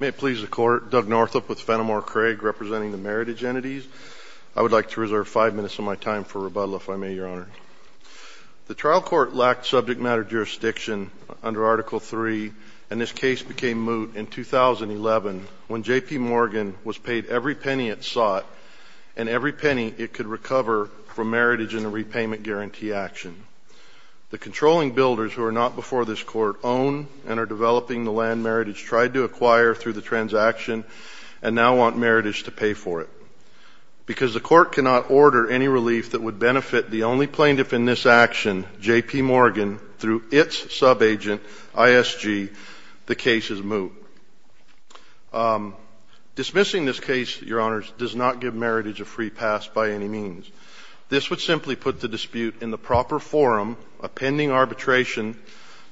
May it please the Court, Doug Northup with Fenimore Craig representing the Meritage Entities. I would like to reserve five minutes of my time for rebuttal, if I may, Your Honor. The trial court lacked subject matter jurisdiction under Article III, and this case became moot in 2011 when J.P. Morgan was paid every penny it sought and every penny it could recover from Meritage in a repayment guarantee action. The controlling builders who are not before this Court own and are developing the land Meritage tried to acquire through the transaction and now want Meritage to pay for it. Because the Court cannot order any relief that would benefit the only plaintiff in this action, J.P. Morgan, through its sub-agent, ISG, the case is moot. Dismissing this case, Your Honors, does not give Meritage a free pass by any means. This would simply put the dispute in the proper forum of pending arbitration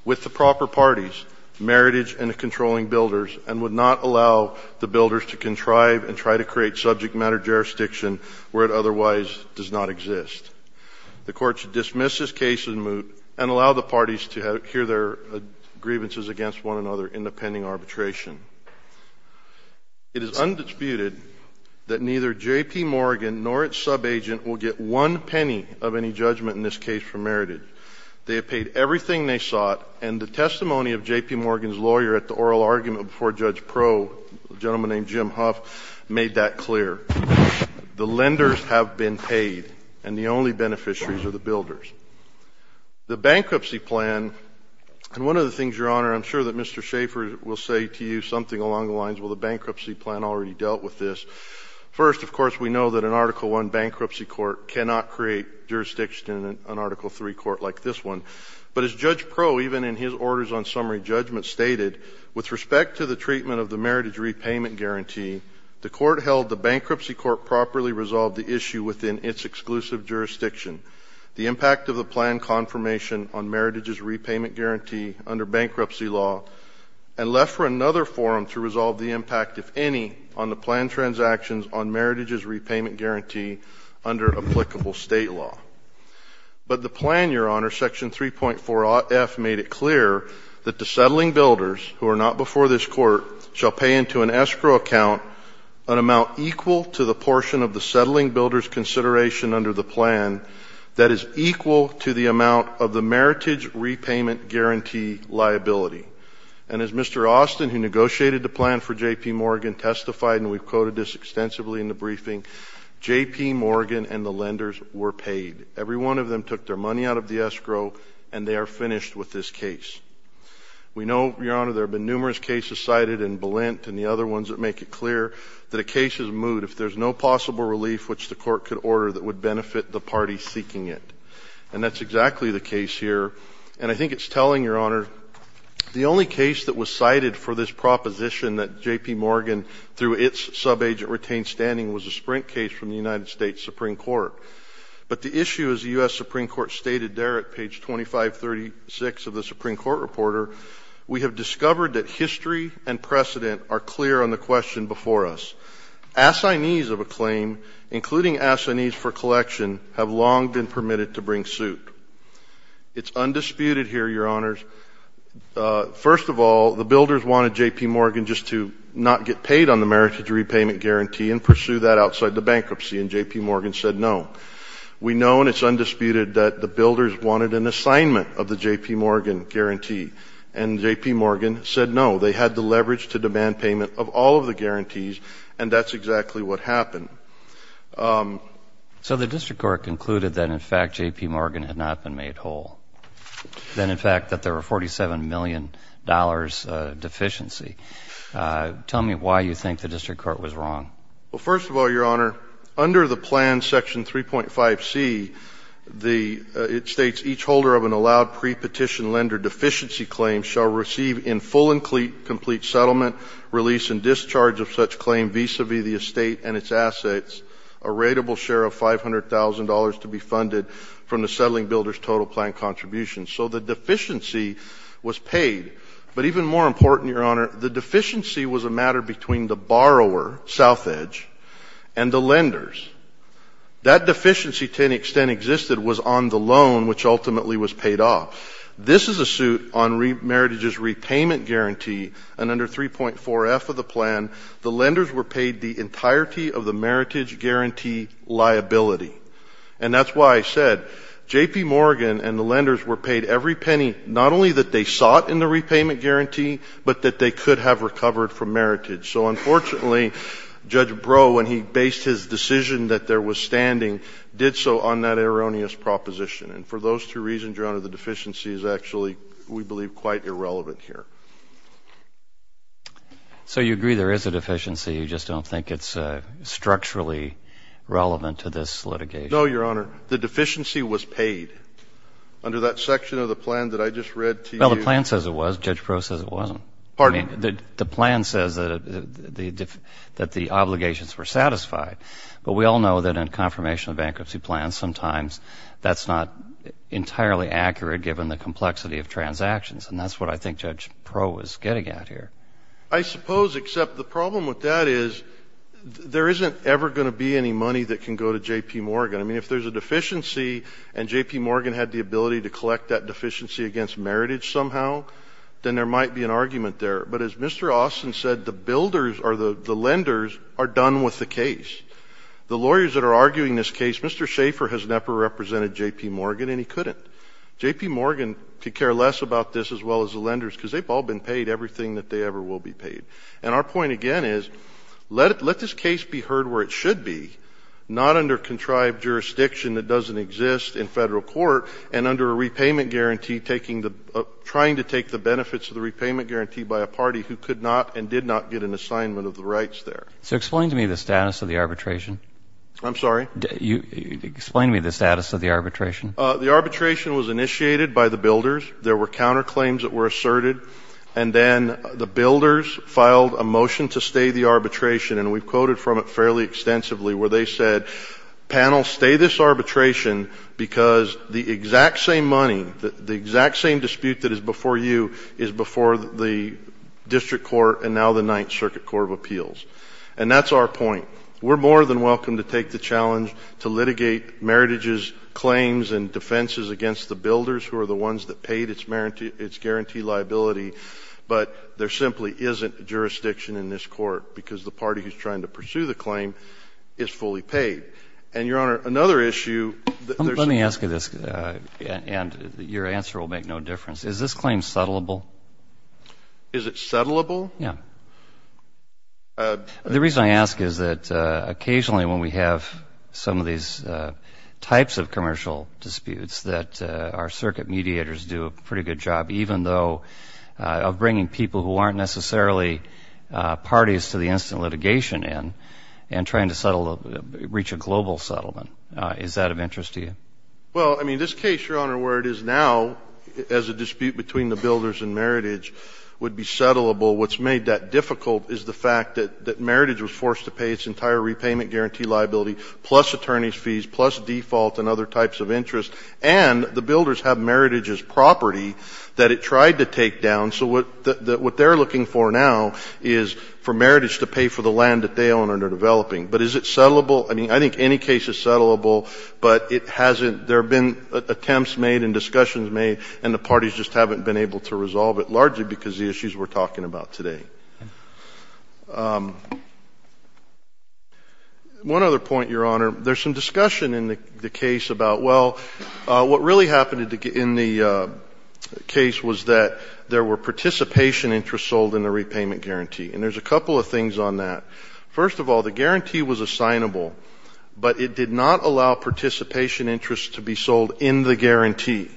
with the proper parties, Meritage and the controlling builders, and would not allow the builders to contrive and try to create subject matter jurisdiction where it otherwise does not exist. The Court should dismiss this case as moot and allow the parties to hear their grievances against one another in the pending arbitration. It is undisputed that neither J.P. Morgan nor its sub-agent will get one penny of any judgment in this case from Meritage. They have paid everything they sought, and the testimony of J.P. Morgan's lawyer at the oral argument before Judge Pro, a gentleman named Jim Huff, made that clear. The lenders have been paid, and the only beneficiaries are the builders. The bankruptcy plan, and one of the things, Your Honor, I'm sure that Mr. Schaffer will say to you something along the lines, well, the bankruptcy plan already dealt with this. First, of course, we know that an Article I bankruptcy court cannot create jurisdiction in an Article III court like this one. But as Judge Pro, even in his orders on summary judgment, stated, with respect to the treatment of the Meritage repayment guarantee, the Court held the bankruptcy court properly resolved the issue within its exclusive jurisdiction. The impact of the plan confirmation on Meritage's repayment guarantee under bankruptcy law, and left for another forum to resolve the impact, if any, on the plan transactions on Meritage's repayment guarantee under applicable State law. But the plan, Your Honor, Section 3.4.f, made it clear that the settling builders, who are not before this Court, shall pay into an escrow account an amount equal to the portion of the settling builder's consideration under the plan that is equal to the amount of the Meritage repayment guarantee liability. And as Mr. Austin, who negotiated the plan for J.P. Morgan, testified, and we've quoted this extensively in the briefing, J.P. Morgan and the lenders were paid. Every one of them took their money out of the escrow, and they are finished with this case. We know, Your Honor, there have been numerous cases cited in Balint and the other ones that make it clear that a case is moot if there's no possible relief which the Court could order that would benefit the party seeking it. And that's exactly the case here. And I think it's telling, Your Honor. The only case that was cited for this proposition that J.P. Morgan, through its subagent, retained standing was a Sprint case from the United States Supreme Court. But the issue, as the U.S. Supreme Court stated there at page 2536 of the Supreme Court Reporter, we have discovered that history and precedent are clear on the question before us. Assignees of a claim, including assignees for collection, have long been permitted to bring suit. It's undisputed here, Your Honors. First of all, the builders wanted J.P. Morgan just to not get paid on the meritage repayment guarantee and pursue that outside the bankruptcy, and J.P. Morgan said no. We know, and it's undisputed, that the builders wanted an assignment of the J.P. Morgan guarantee, and J.P. Morgan said no. They had the leverage to demand payment of all of the guarantees, and that's exactly what happened. So the district court concluded that, in fact, J.P. Morgan had not been made whole, that, in fact, that there were $47 million deficiency. Tell me why you think the district court was wrong. Well, first of all, Your Honor, under the plan, section 3.5c, it states, each holder of an allowed prepetition lender deficiency claim shall receive in full and complete settlement, release, and discharge of such claim vis-a-vis the estate and its assets a rateable share of $500,000 to be funded from the settling builder's total plan contribution. So the deficiency was paid. But even more important, Your Honor, the deficiency was a matter between the borrower, Southedge, and the lenders. That deficiency, to an extent, existed was on the loan, which ultimately was paid off. This is a suit on Meritage's repayment guarantee, and under 3.4f of the plan, the lenders were paid the entirety of the Meritage guarantee liability. And that's why I said J.P. Morgan and the lenders were paid every penny, not only that they sought in the repayment guarantee, but that they could have recovered from Meritage. So, unfortunately, Judge Breau, when he based his decision that there was standing, did so on that erroneous proposition. And for those two reasons, Your Honor, the deficiency is actually, we believe, quite irrelevant here. So you agree there is a deficiency, you just don't think it's structurally relevant to this litigation? No, Your Honor. The deficiency was paid. Under that section of the plan that I just read to you. Well, the plan says it was. Judge Breau says it wasn't. Pardon me? I mean, the plan says that the obligations were satisfied. But we all know that in confirmation of bankruptcy plans, sometimes that's not entirely accurate given the complexity of transactions. And that's what I think Judge Breau is getting at here. I suppose, except the problem with that is there isn't ever going to be any money that can go to J.P. Morgan. I mean, if there's a deficiency and J.P. Morgan had the ability to collect that But as Mr. Austin said, the builders or the lenders are done with the case. The lawyers that are arguing this case, Mr. Schaefer has never represented J.P. Morgan and he couldn't. J.P. Morgan could care less about this as well as the lenders because they've all been paid everything that they ever will be paid. And our point again is let this case be heard where it should be, not under contrived jurisdiction that doesn't exist in Federal court and under a repayment guarantee trying to take the benefits of the repayment guarantee by a party who could not and did not get an assignment of the rights there. So explain to me the status of the arbitration. I'm sorry? Explain to me the status of the arbitration. The arbitration was initiated by the builders. There were counterclaims that were asserted. And then the builders filed a motion to stay the arbitration. And we've quoted from it fairly extensively where they said, panel, stay this before you is before the district court and now the Ninth Circuit Court of Appeals. And that's our point. We're more than welcome to take the challenge to litigate meritage's claims and defenses against the builders who are the ones that paid its guarantee liability, but there simply isn't jurisdiction in this court because the party who's trying to pursue the claim is fully paid. And, Your Honor, another issue that there's been. And your answer will make no difference. Is this claim settlable? Is it settlable? Yeah. The reason I ask is that occasionally when we have some of these types of commercial disputes, that our circuit mediators do a pretty good job, even though of bringing people who aren't necessarily parties to the instant litigation and trying to reach a global settlement. Is that of interest to you? Well, I mean, this case, Your Honor, where it is now as a dispute between the builders and meritage would be settlable. What's made that difficult is the fact that meritage was forced to pay its entire repayment guarantee liability plus attorney's fees plus default and other types of interest, and the builders have meritage's property that it tried to take down. So what they're looking for now is for meritage to pay for the land that they own and are developing. But is it settlable? I mean, I think any case is settlable, but it hasn't — there have been attempts made and discussions made, and the parties just haven't been able to resolve it, largely because of the issues we're talking about today. One other point, Your Honor. There's some discussion in the case about, well, what really happened in the case was that there were participation interests sold in the repayment guarantee. And there's a couple of things on that. First of all, the guarantee was assignable, but it did not allow participation interests to be sold in the guarantee.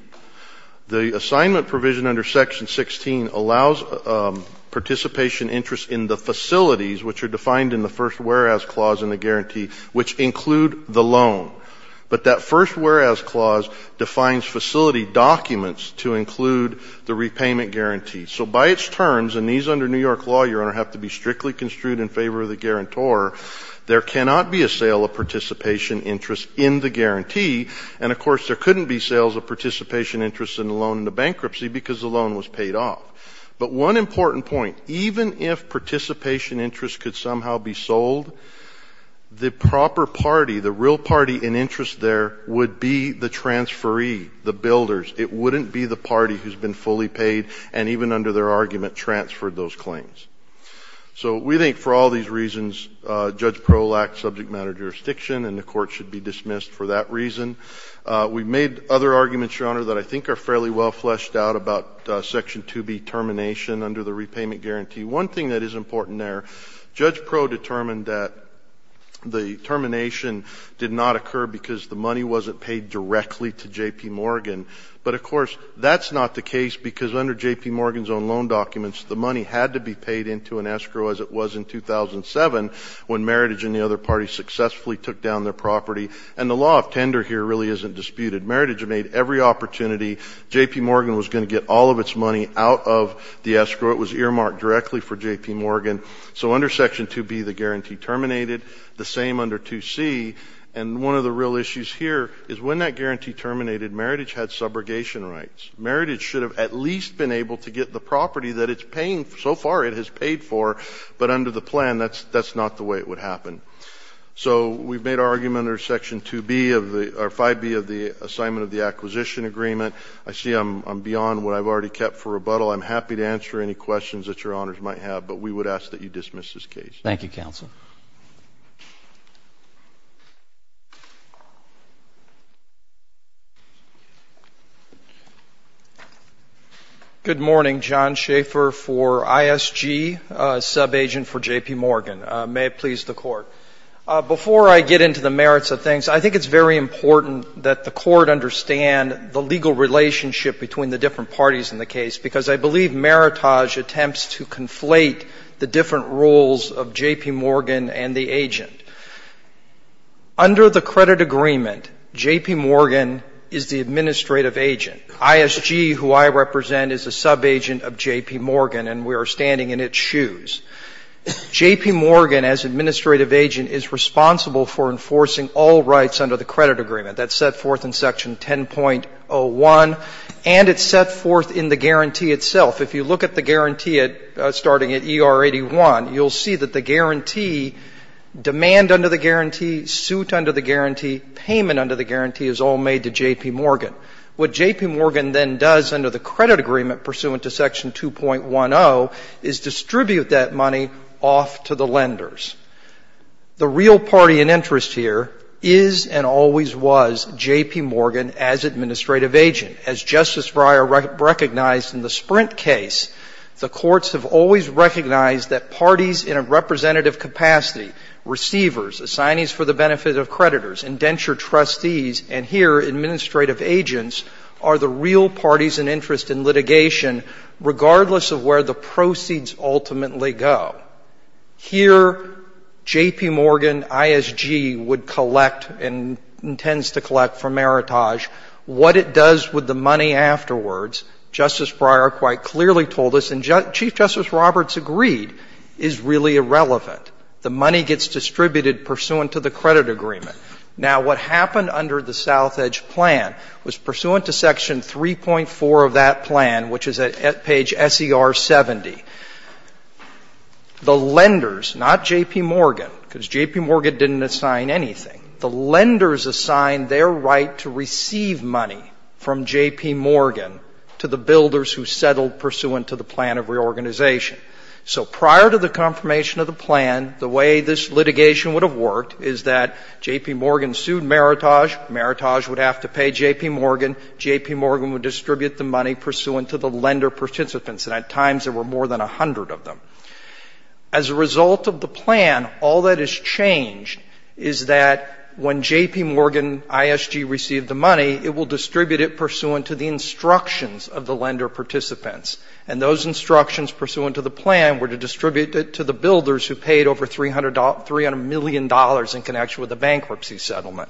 The assignment provision under Section 16 allows participation interests in the facilities, which are defined in the first whereas clause in the guarantee, which include the loan. But that first whereas clause defines facility documents to include the repayment guarantee. So by its terms, and these under New York law, Your Honor, have to be strictly construed in favor of the guarantor, there cannot be a sale of participation interests in the guarantee. And, of course, there couldn't be sales of participation interests in the loan in the bankruptcy because the loan was paid off. But one important point. Even if participation interests could somehow be sold, the proper party, the real party in interest there would be the transferee, the builders. It wouldn't be the party who's been fully paid and even under their argument transferred those claims. So we think for all these reasons Judge Proulx lacked subject matter jurisdiction and the court should be dismissed for that reason. We've made other arguments, Your Honor, that I think are fairly well fleshed out about Section 2B termination under the repayment guarantee. One thing that is important there, Judge Proulx determined that the termination did not occur because the money wasn't paid directly to J.P. Morgan. But, of course, that's not the case because under J.P. Morgan's own loan documents the money had to be paid into an escrow as it was in 2007 when Meritage and the other parties successfully took down their property. And the law of tender here really isn't disputed. Meritage made every opportunity. J.P. Morgan was going to get all of its money out of the escrow. It was earmarked directly for J.P. Morgan. So under Section 2B the guarantee terminated. The same under 2C. And one of the real issues here is when that guarantee terminated, Meritage had subrogation rights. Meritage should have at least been able to get the property that it's paying so far it has paid for, but under the plan that's not the way it would happen. So we've made our argument under 5B of the assignment of the acquisition agreement. I see I'm beyond what I've already kept for rebuttal. I'm happy to answer any questions that Your Honors might have, but we would ask that you dismiss this case. Thank you, counsel. Good morning. John Schaeffer for ISG, subagent for J.P. Morgan. May it please the Court. Before I get into the merits of things, I think it's very important that the Court understand the legal relationship between the different parties in the case, because I believe Meritage attempts to conflate the different roles of J.P. Morgan and the agent. Under the credit agreement, J.P. Morgan is the administrative agent. ISG, who I represent, is a subagent of J.P. Morgan, and we are standing in its shoes. J.P. Morgan, as administrative agent, is responsible for enforcing all rights under the credit agreement. That's set forth in Section 10.01, and it's set forth in the guarantee itself. If you look at the guarantee starting at E.R. 81, you'll see that the guarantee, demand under the guarantee, suit under the guarantee, payment under the guarantee is all made to J.P. Morgan. What J.P. Morgan then does under the credit agreement pursuant to Section 2.10 is distribute that money off to the lenders. The real party in interest here is and always was J.P. Morgan as administrative agent. As Justice Breyer recognized in the Sprint case, the courts have always recognized that parties in a representative capacity, receivers, assignees for the benefit of creditors, indentured trustees, and here administrative agents, are the real parties in interest in litigation regardless of where the proceeds ultimately go. Here, J.P. Morgan ISG would collect and intends to collect from Meritage. What it does with the money afterwards, Justice Breyer quite clearly told us, and Chief Justice Roberts agreed, is really irrelevant. The money gets distributed pursuant to the credit agreement. Now, what happened under the South Edge plan was pursuant to Section 3.4 of that the lenders, not J.P. Morgan, because J.P. Morgan didn't assign anything, the lenders assigned their right to receive money from J.P. Morgan to the builders who settled pursuant to the plan of reorganization. So prior to the confirmation of the plan, the way this litigation would have worked is that J.P. Morgan sued Meritage. Meritage would have to pay J.P. Morgan. J.P. Morgan would distribute the money pursuant to the lender participants, and at times there were more than 100 of them. As a result of the plan, all that has changed is that when J.P. Morgan ISG received the money, it will distribute it pursuant to the instructions of the lender participants. And those instructions pursuant to the plan were to distribute it to the builders who paid over $300 million in connection with the bankruptcy settlement.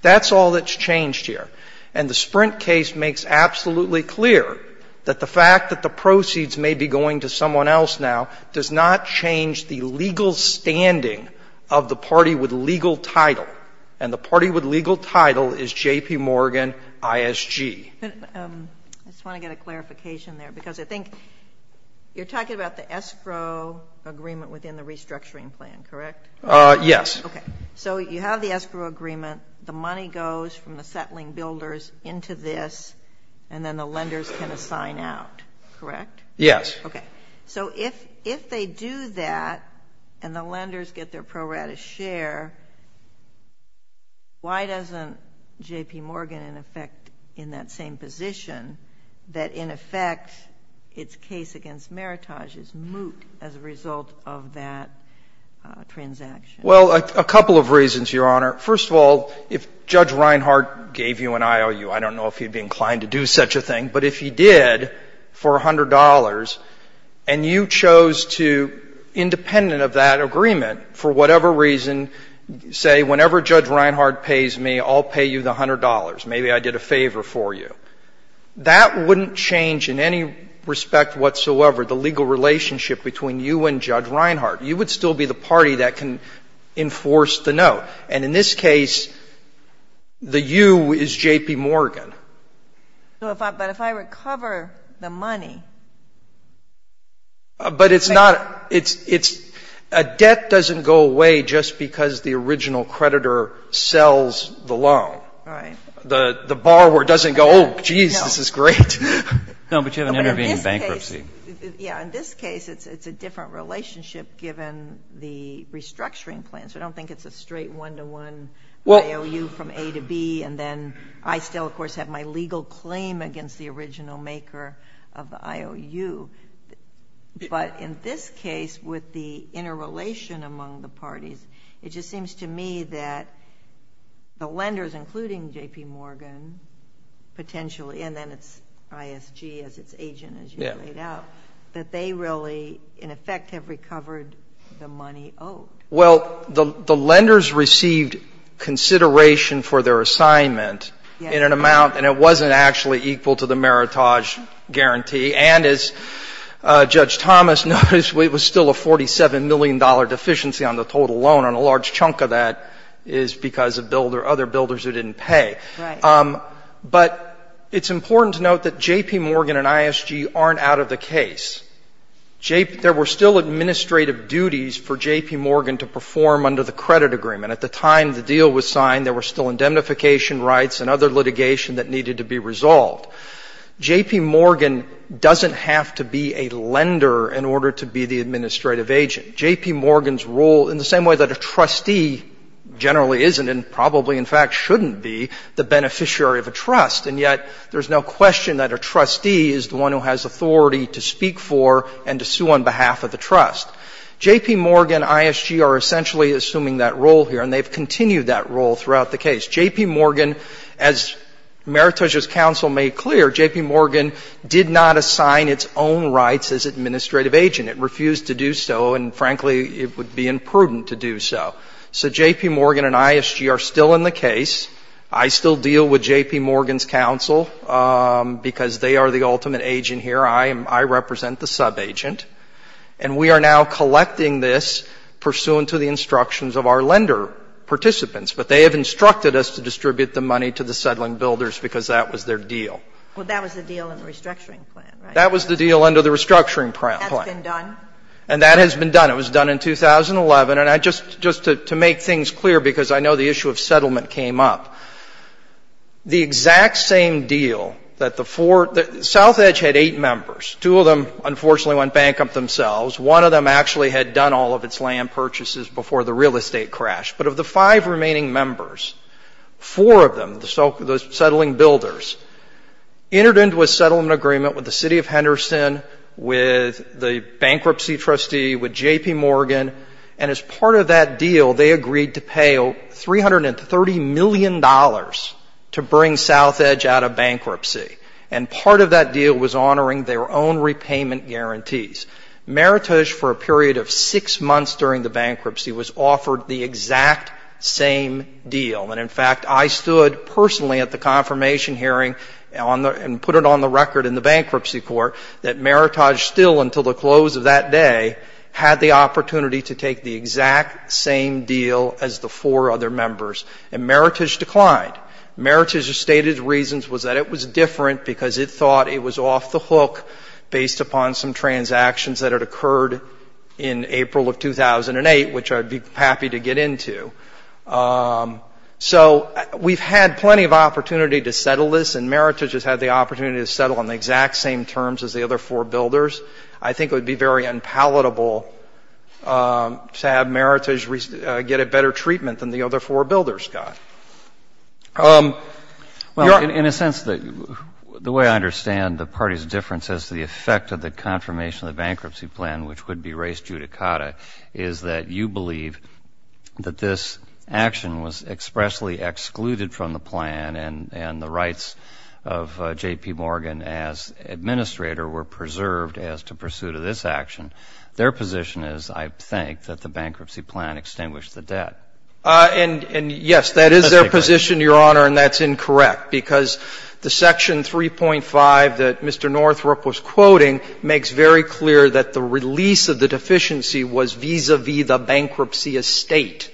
That's all that's changed here. And the Sprint case makes absolutely clear that the fact that the proceeds may be going to someone else now does not change the legal standing of the party with legal title. And the party with legal title is J.P. Morgan ISG. But I just want to get a clarification there, because I think you're talking about the escrow agreement within the restructuring plan, correct? Yes. Okay. So you have the escrow agreement, the money goes from the settling builders into this, and then the lenders can assign out, correct? Yes. Okay. So if they do that and the lenders get their pro rata share, why doesn't J.P. Morgan, in effect, in that same position, that in effect its case against Meritage is moot as a result of that transaction? Well, a couple of reasons, Your Honor. First of all, if Judge Reinhardt gave you an IOU, I don't know if he'd be inclined to do such a thing, but if he did for $100 and you chose to, independent of that agreement, for whatever reason, say, whenever Judge Reinhardt pays me, I'll pay you the $100, maybe I did a favor for you, that wouldn't change in any respect whatsoever the legal relationship between you and Judge Reinhardt. You would still be the party that can enforce the note. And in this case, the you is J.P. Morgan. But if I recover the money? But it's not, it's, a debt doesn't go away just because the original creditor sells the loan. Right. The borrower doesn't go, oh, geez, this is great. No, but you have an intervening bankruptcy. Yeah, in this case, it's a different relationship given the restructuring plans. I don't think it's a straight one-to-one IOU from A to B, and then I still, of course, have my legal claim against the original maker of the IOU. But in this case, with the interrelation among the parties, it just seems to me that the lenders, including J.P. Morgan, potentially, and then it's Agent, as you laid out, that they really, in effect, have recovered the money owed. Well, the lenders received consideration for their assignment in an amount, and it wasn't actually equal to the meritage guarantee. And as Judge Thomas noticed, it was still a $47 million deficiency on the total loan. And a large chunk of that is because of other builders who didn't pay. Right. But it's important to note that J.P. Morgan and ISG aren't out of the case. There were still administrative duties for J.P. Morgan to perform under the credit agreement. At the time the deal was signed, there were still indemnification rights and other litigation that needed to be resolved. J.P. Morgan doesn't have to be a lender in order to be the administrative agent. J.P. Morgan's role, in the same way that a trustee generally isn't and probably, in fact, shouldn't be the beneficiary of a trust, and yet there's no question that a trustee is the one who has authority to speak for and to sue on behalf of the trust. J.P. Morgan and ISG are essentially assuming that role here, and they've continued that role throughout the case. J.P. Morgan, as Meritage's counsel made clear, J.P. Morgan did not assign its own rights as administrative agent. It refused to do so, and frankly, it would be imprudent to do so. So J.P. Morgan and ISG are still in the case. I still deal with J.P. Morgan's counsel because they are the ultimate agent here. I represent the subagent. And we are now collecting this pursuant to the instructions of our lender participants. But they have instructed us to distribute the money to the settling builders because that was their deal. Well, that was the deal in the restructuring plan, right? That was the deal under the restructuring plan. That's been done? And that has been done. It was done in 2011. And just to make things clear, because I know the issue of settlement came up, the exact same deal that the four – South Edge had eight members. Two of them, unfortunately, went bankrupt themselves. One of them actually had done all of its land purchases before the real estate crashed. But of the five remaining members, four of them, the settling builders, entered into a settlement agreement with the city of Henderson, with the bankruptcy trustee, with J.P. Morgan. And as part of that deal, they agreed to pay $330 million to bring South Edge out of bankruptcy. And part of that deal was honoring their own repayment guarantees. Meritage, for a period of six months during the bankruptcy, was offered the exact same deal. And, in fact, I stood personally at the confirmation hearing and put it on the record in the bankruptcy court that Meritage still, until the close of that day, had the opportunity to take the exact same deal as the four other members. And Meritage declined. Meritage's stated reasons was that it was different because it thought it was off the hook based upon some transactions that had occurred in April of 2008, which I'd be happy to get into. So we've had plenty of opportunity to settle this, and Meritage has had the opportunity to settle on the exact same terms as the other four builders. I think it would be very unpalatable to have Meritage get a better treatment than the other four builders got. You're up. Well, in a sense, the way I understand the party's difference as to the effect of the confirmation of the bankruptcy plan, which would be raised judicata, is that you believe that this action was expressly excluded from the plan and the rights of J.P. Morgan as administrator were preserved as to pursuit of this action. Their position is, I think, that the bankruptcy plan extinguished the debt. And, yes, that is their position, Your Honor, and that's incorrect because the section 3.5 that Mr. Northrup was quoting makes very clear that the release of the deficiency was vis-a-vis the bankruptcy estate.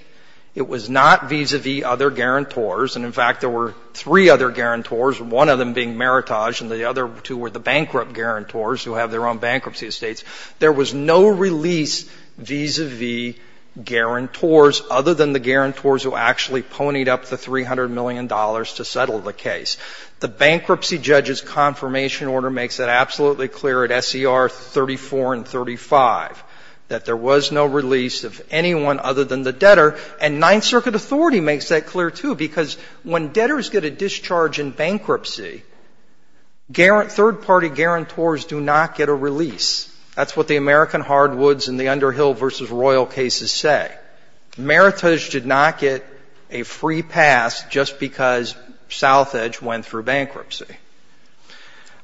It was not vis-a-vis other guarantors. And, in fact, there were three other guarantors, one of them being Meritage and the other two were the bankrupt guarantors who have their own bankruptcy estates. There was no release vis-a-vis guarantors other than the guarantors who actually ponied up the $300 million to settle the case. The bankruptcy judge's confirmation order makes that absolutely clear at S.E.R. 34 and 35, that there was no release of anyone other than the debtor. And Ninth Circuit authority makes that clear, too, because when debtors get a discharge in bankruptcy, third-party guarantors do not get a release. That's what the American hardwoods in the Underhill v. Royal cases say. Meritage did not get a free pass just because Southedge went through bankruptcy.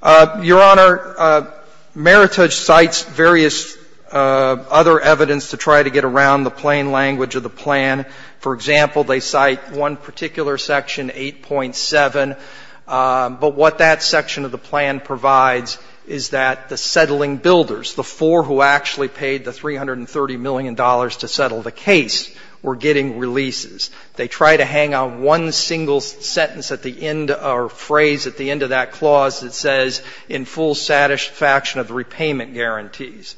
Your Honor, Meritage cites various other evidence to try to get around the plain language of the plan. For example, they cite one particular section, 8.7. But what that section of the plan provides is that the settling builders, the four who actually paid the $330 million to settle the case, were getting releases. They try to hang on one single sentence at the end or phrase at the end of that clause that says, in full satisfaction of the repayment guarantees.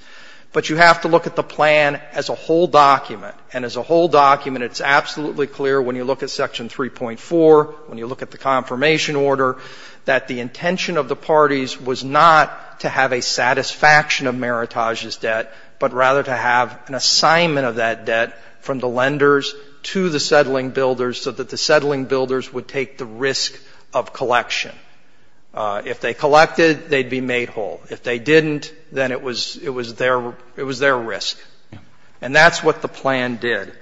But you have to look at the plan as a whole document. And as a whole document, it's absolutely clear when you look at Section 3.4, when you look at the confirmation order, that the intention of the parties was not to have a satisfaction of Meritage's debt, but rather to have an assignment of that debt from the lenders to the settling builders so that the settling builders would take the risk of collection. If they collected, they'd be made whole. If they didn't, then it was their risk. And that's what the plan did.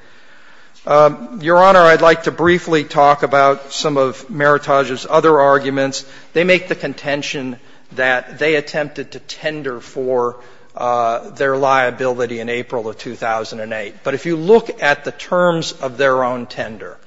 Your Honor, I'd like to briefly talk about some of Meritage's other arguments. They make the contention that they attempted to tender for their liability in April of 2008. But if you look at the terms of their own tender,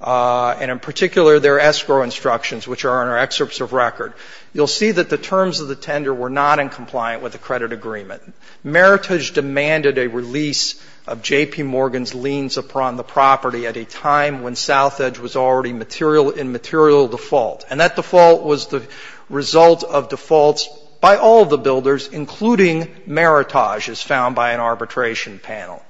and in particular their escrow instructions, which are in our excerpts of record, you'll see that the terms of the tender were not in compliant with the credit agreement. Meritage demanded a release of J.P. Morgan's liens upon the property at a time when Southedge was already in material default. And that default was the result of defaults by all of the builders, including Meritage, as found by an arbitration panel.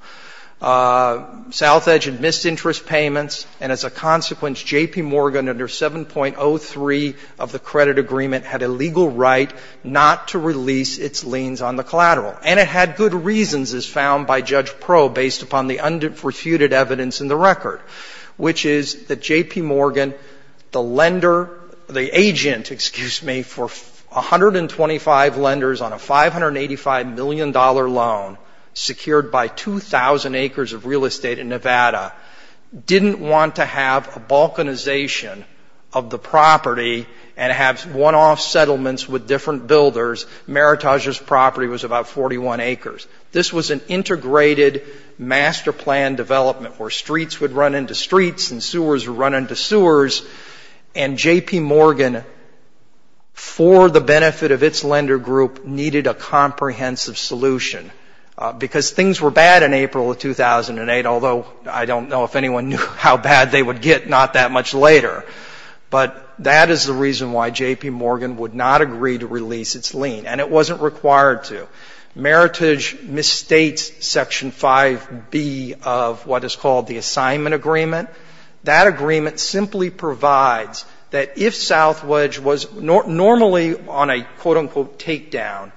Southedge had missed interest payments, and as a consequence, J.P. Morgan, under 7.03 of the credit agreement, had a legal right not to release its liens on the collateral. And it had good reasons, as found by Judge Pro based upon the undisputed evidence in the record, which is that J.P. Morgan, the lender, the agent, excuse me, for 125 lenders on a $585 million loan, secured by 2,000 acres of real estate in Nevada, didn't want to have a balkanization of the property and have one-off settlements with different builders. Meritage's property was about 41 acres. This was an integrated master plan development where streets would run into streets and sewers would run into sewers, and J.P. Morgan would not agree to release its lien. And it wasn't required to. Meritage misstates Section 5B of what is called the assignment agreement. That agreement simply provides that if Southedge was normally on a, quote, unquote, takedown,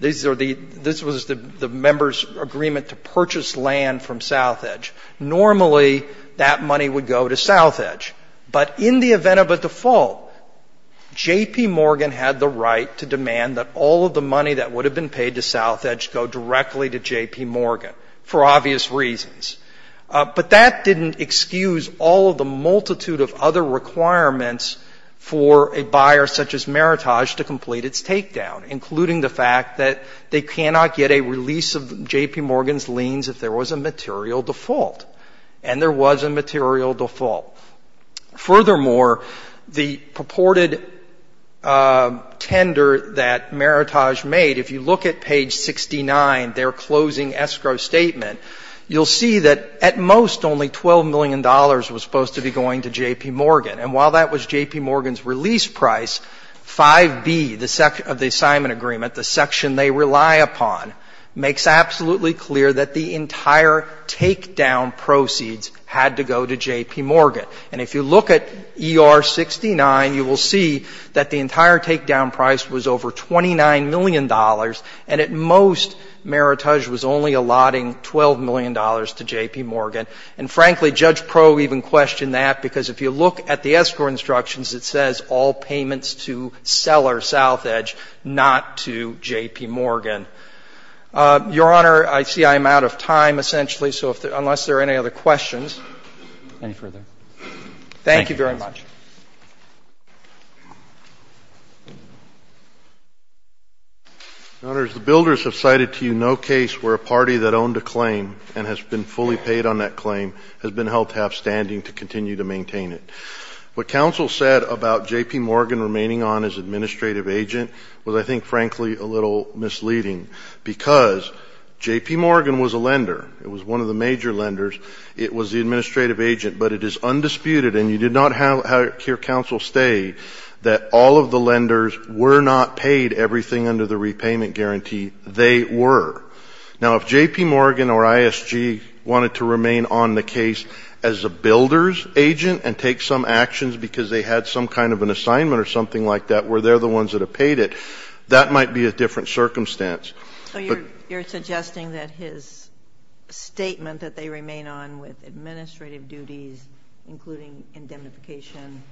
these are the, this is what it would look like if Southedge was on a takedown. This was the member's agreement to purchase land from Southedge. Normally, that money would go to Southedge. But in the event of a default, J.P. Morgan had the right to demand that all of the money that would have been paid to Southedge go directly to J.P. Morgan for obvious reasons. But that didn't excuse all of the multitude of other requirements for a buyer such as Meritage to complete its takedown, including the fact that they cannot get a release of J.P. Morgan's liens if there was a material default. And there was a material default. Furthermore, the purported tender that Meritage made, if you look at page 69, their closing escrow statement, you'll see that at most only $12 million was supposed to be going to J.P. Morgan. And while that was J.P. Morgan's release price, 5b, the section of the assignment agreement, the section they rely upon, makes absolutely clear that the entire takedown proceeds had to go to J.P. Morgan. And if you look at ER69, you will see that the entire takedown price was over $29 million, and at most Meritage was only allotting $12 million to J.P. Morgan. And frankly, Judge Proe even questioned that, because if you look at the escrow instructions, it says all payments to Seller, South Edge, not to J.P. Morgan. Your Honor, I see I'm out of time, essentially, so unless there are any other questions. Roberts. Any further? Thank you, Justice. Thank you very much. The Builders have cited to you no case where a party that owned a claim and has been fully paid on that claim has been held to have standing to continue to maintain it. What counsel said about J.P. Morgan remaining on as administrative agent was, I think, frankly, a little misleading, because J.P. Morgan was a lender. It was one of the major lenders. It was the administrative agent. But it is undisputed, and you did not hear counsel state, that all of the lenders were not paid everything under the repayment guarantee. They were. Now, if J.P. Morgan or ISG wanted to remain on the case as a Builders agent and take some actions because they had some kind of an assignment or something like that where they're the ones that have paid it, that might be a different circumstance. But you're suggesting that his statement that they remain on with administrative duties, including indemnification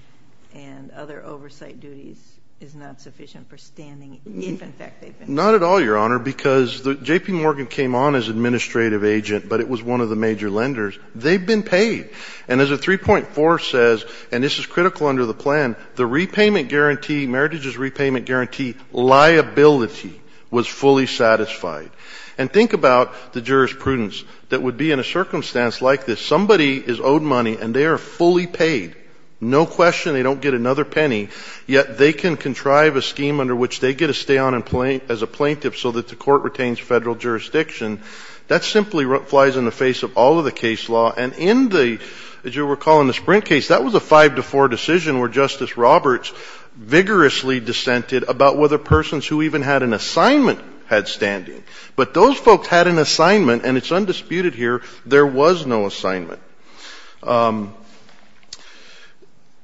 and other oversight duties, is not sufficient for standing if, in fact, they've been paid? Not at all, Your Honor, because J.P. Morgan came on as administrative agent, but it was one of the major lenders. They've been paid. And as the 3.4 says, and this is critical under the plan, the repayment guarantee, Meritage's repayment guarantee liability was fully satisfied. And think about the jurisprudence that would be in a circumstance like this. Somebody is owed money, and they are fully paid. No question. They don't get another penny. Yet they can contrive a scheme under which they get to stay on as a plaintiff so that the court retains Federal jurisdiction. That simply flies in the face of all of the case law. And in the, as you'll recall, in the Sprint case, that was a 5-4 decision where Justice Roberts vigorously dissented about whether persons who even had an assignment had standing. But those folks had an assignment, and it's undisputed here, there was no assignment.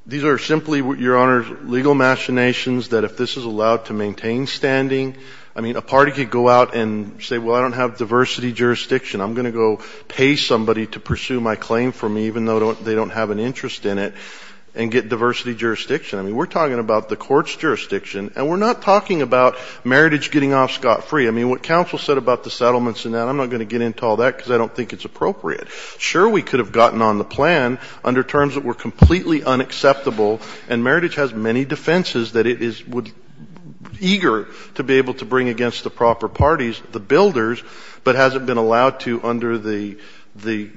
These are simply, Your Honor, legal machinations that if this is allowed to maintain standing, I mean, a party could go out and say, well, I don't have diversity jurisdiction. I'm going to go pay somebody to pursue my claim for me, even though they don't have an interest in it, and get diversity jurisdiction. I mean, we're talking about the court's jurisdiction, and we're not talking about Meritage getting off scot-free. I mean, what counsel said about the settlements and that, I'm not going to get into all that because I don't think it's appropriate. Sure, we could have gotten on the plan under terms that were completely unacceptable, and Meritage has many defenses that it is eager to be able to bring against the proper parties, the builders, but hasn't been allowed to under the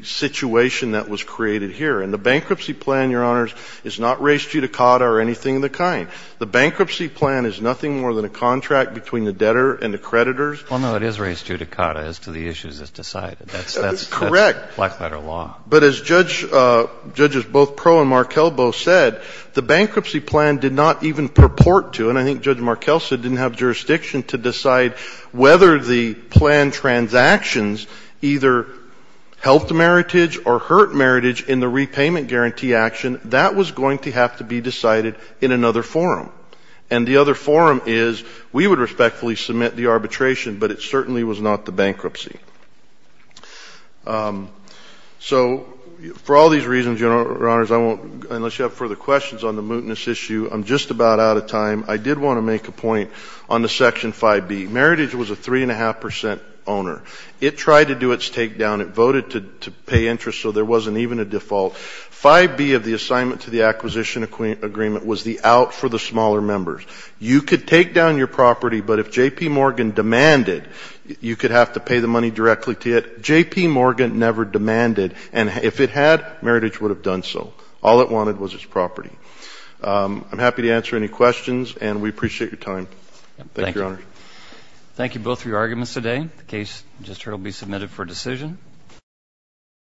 situation that was created here. And the bankruptcy plan, Your Honors, is not res judicata or anything of the kind. The bankruptcy plan is nothing more than a contract between the debtor and the creditors. Well, no, it is res judicata as to the issues as decided. Correct. Black-letter law. But as Judges both Pro and Markelbo said, the bankruptcy plan did not even purport to, and I think Judge Markel said it didn't have jurisdiction to decide whether the planned transactions either helped Meritage or hurt Meritage in the repayment guarantee action. That was going to have to be decided in another forum. And the other forum is, we would respectfully submit the arbitration, but it certainly was not the bankruptcy. So for all these reasons, Your Honors, I won't, unless you have further questions on the mootness issue, I'm just about out of time. I did want to make a point on the Section 5B. Meritage was a 3.5% owner. It tried to do its takedown. It voted to pay interest, so there wasn't even a default. 5B of the assignment to the acquisition agreement was the out for the smaller members. You could take down your property, but if J.P. Morgan never demanded, and if it had, Meritage would have done so. All it wanted was its property. I'm happy to answer any questions, and we appreciate your time. Thank you, Your Honors. Thank you both for your arguments today. The case you just heard will be submitted for decision.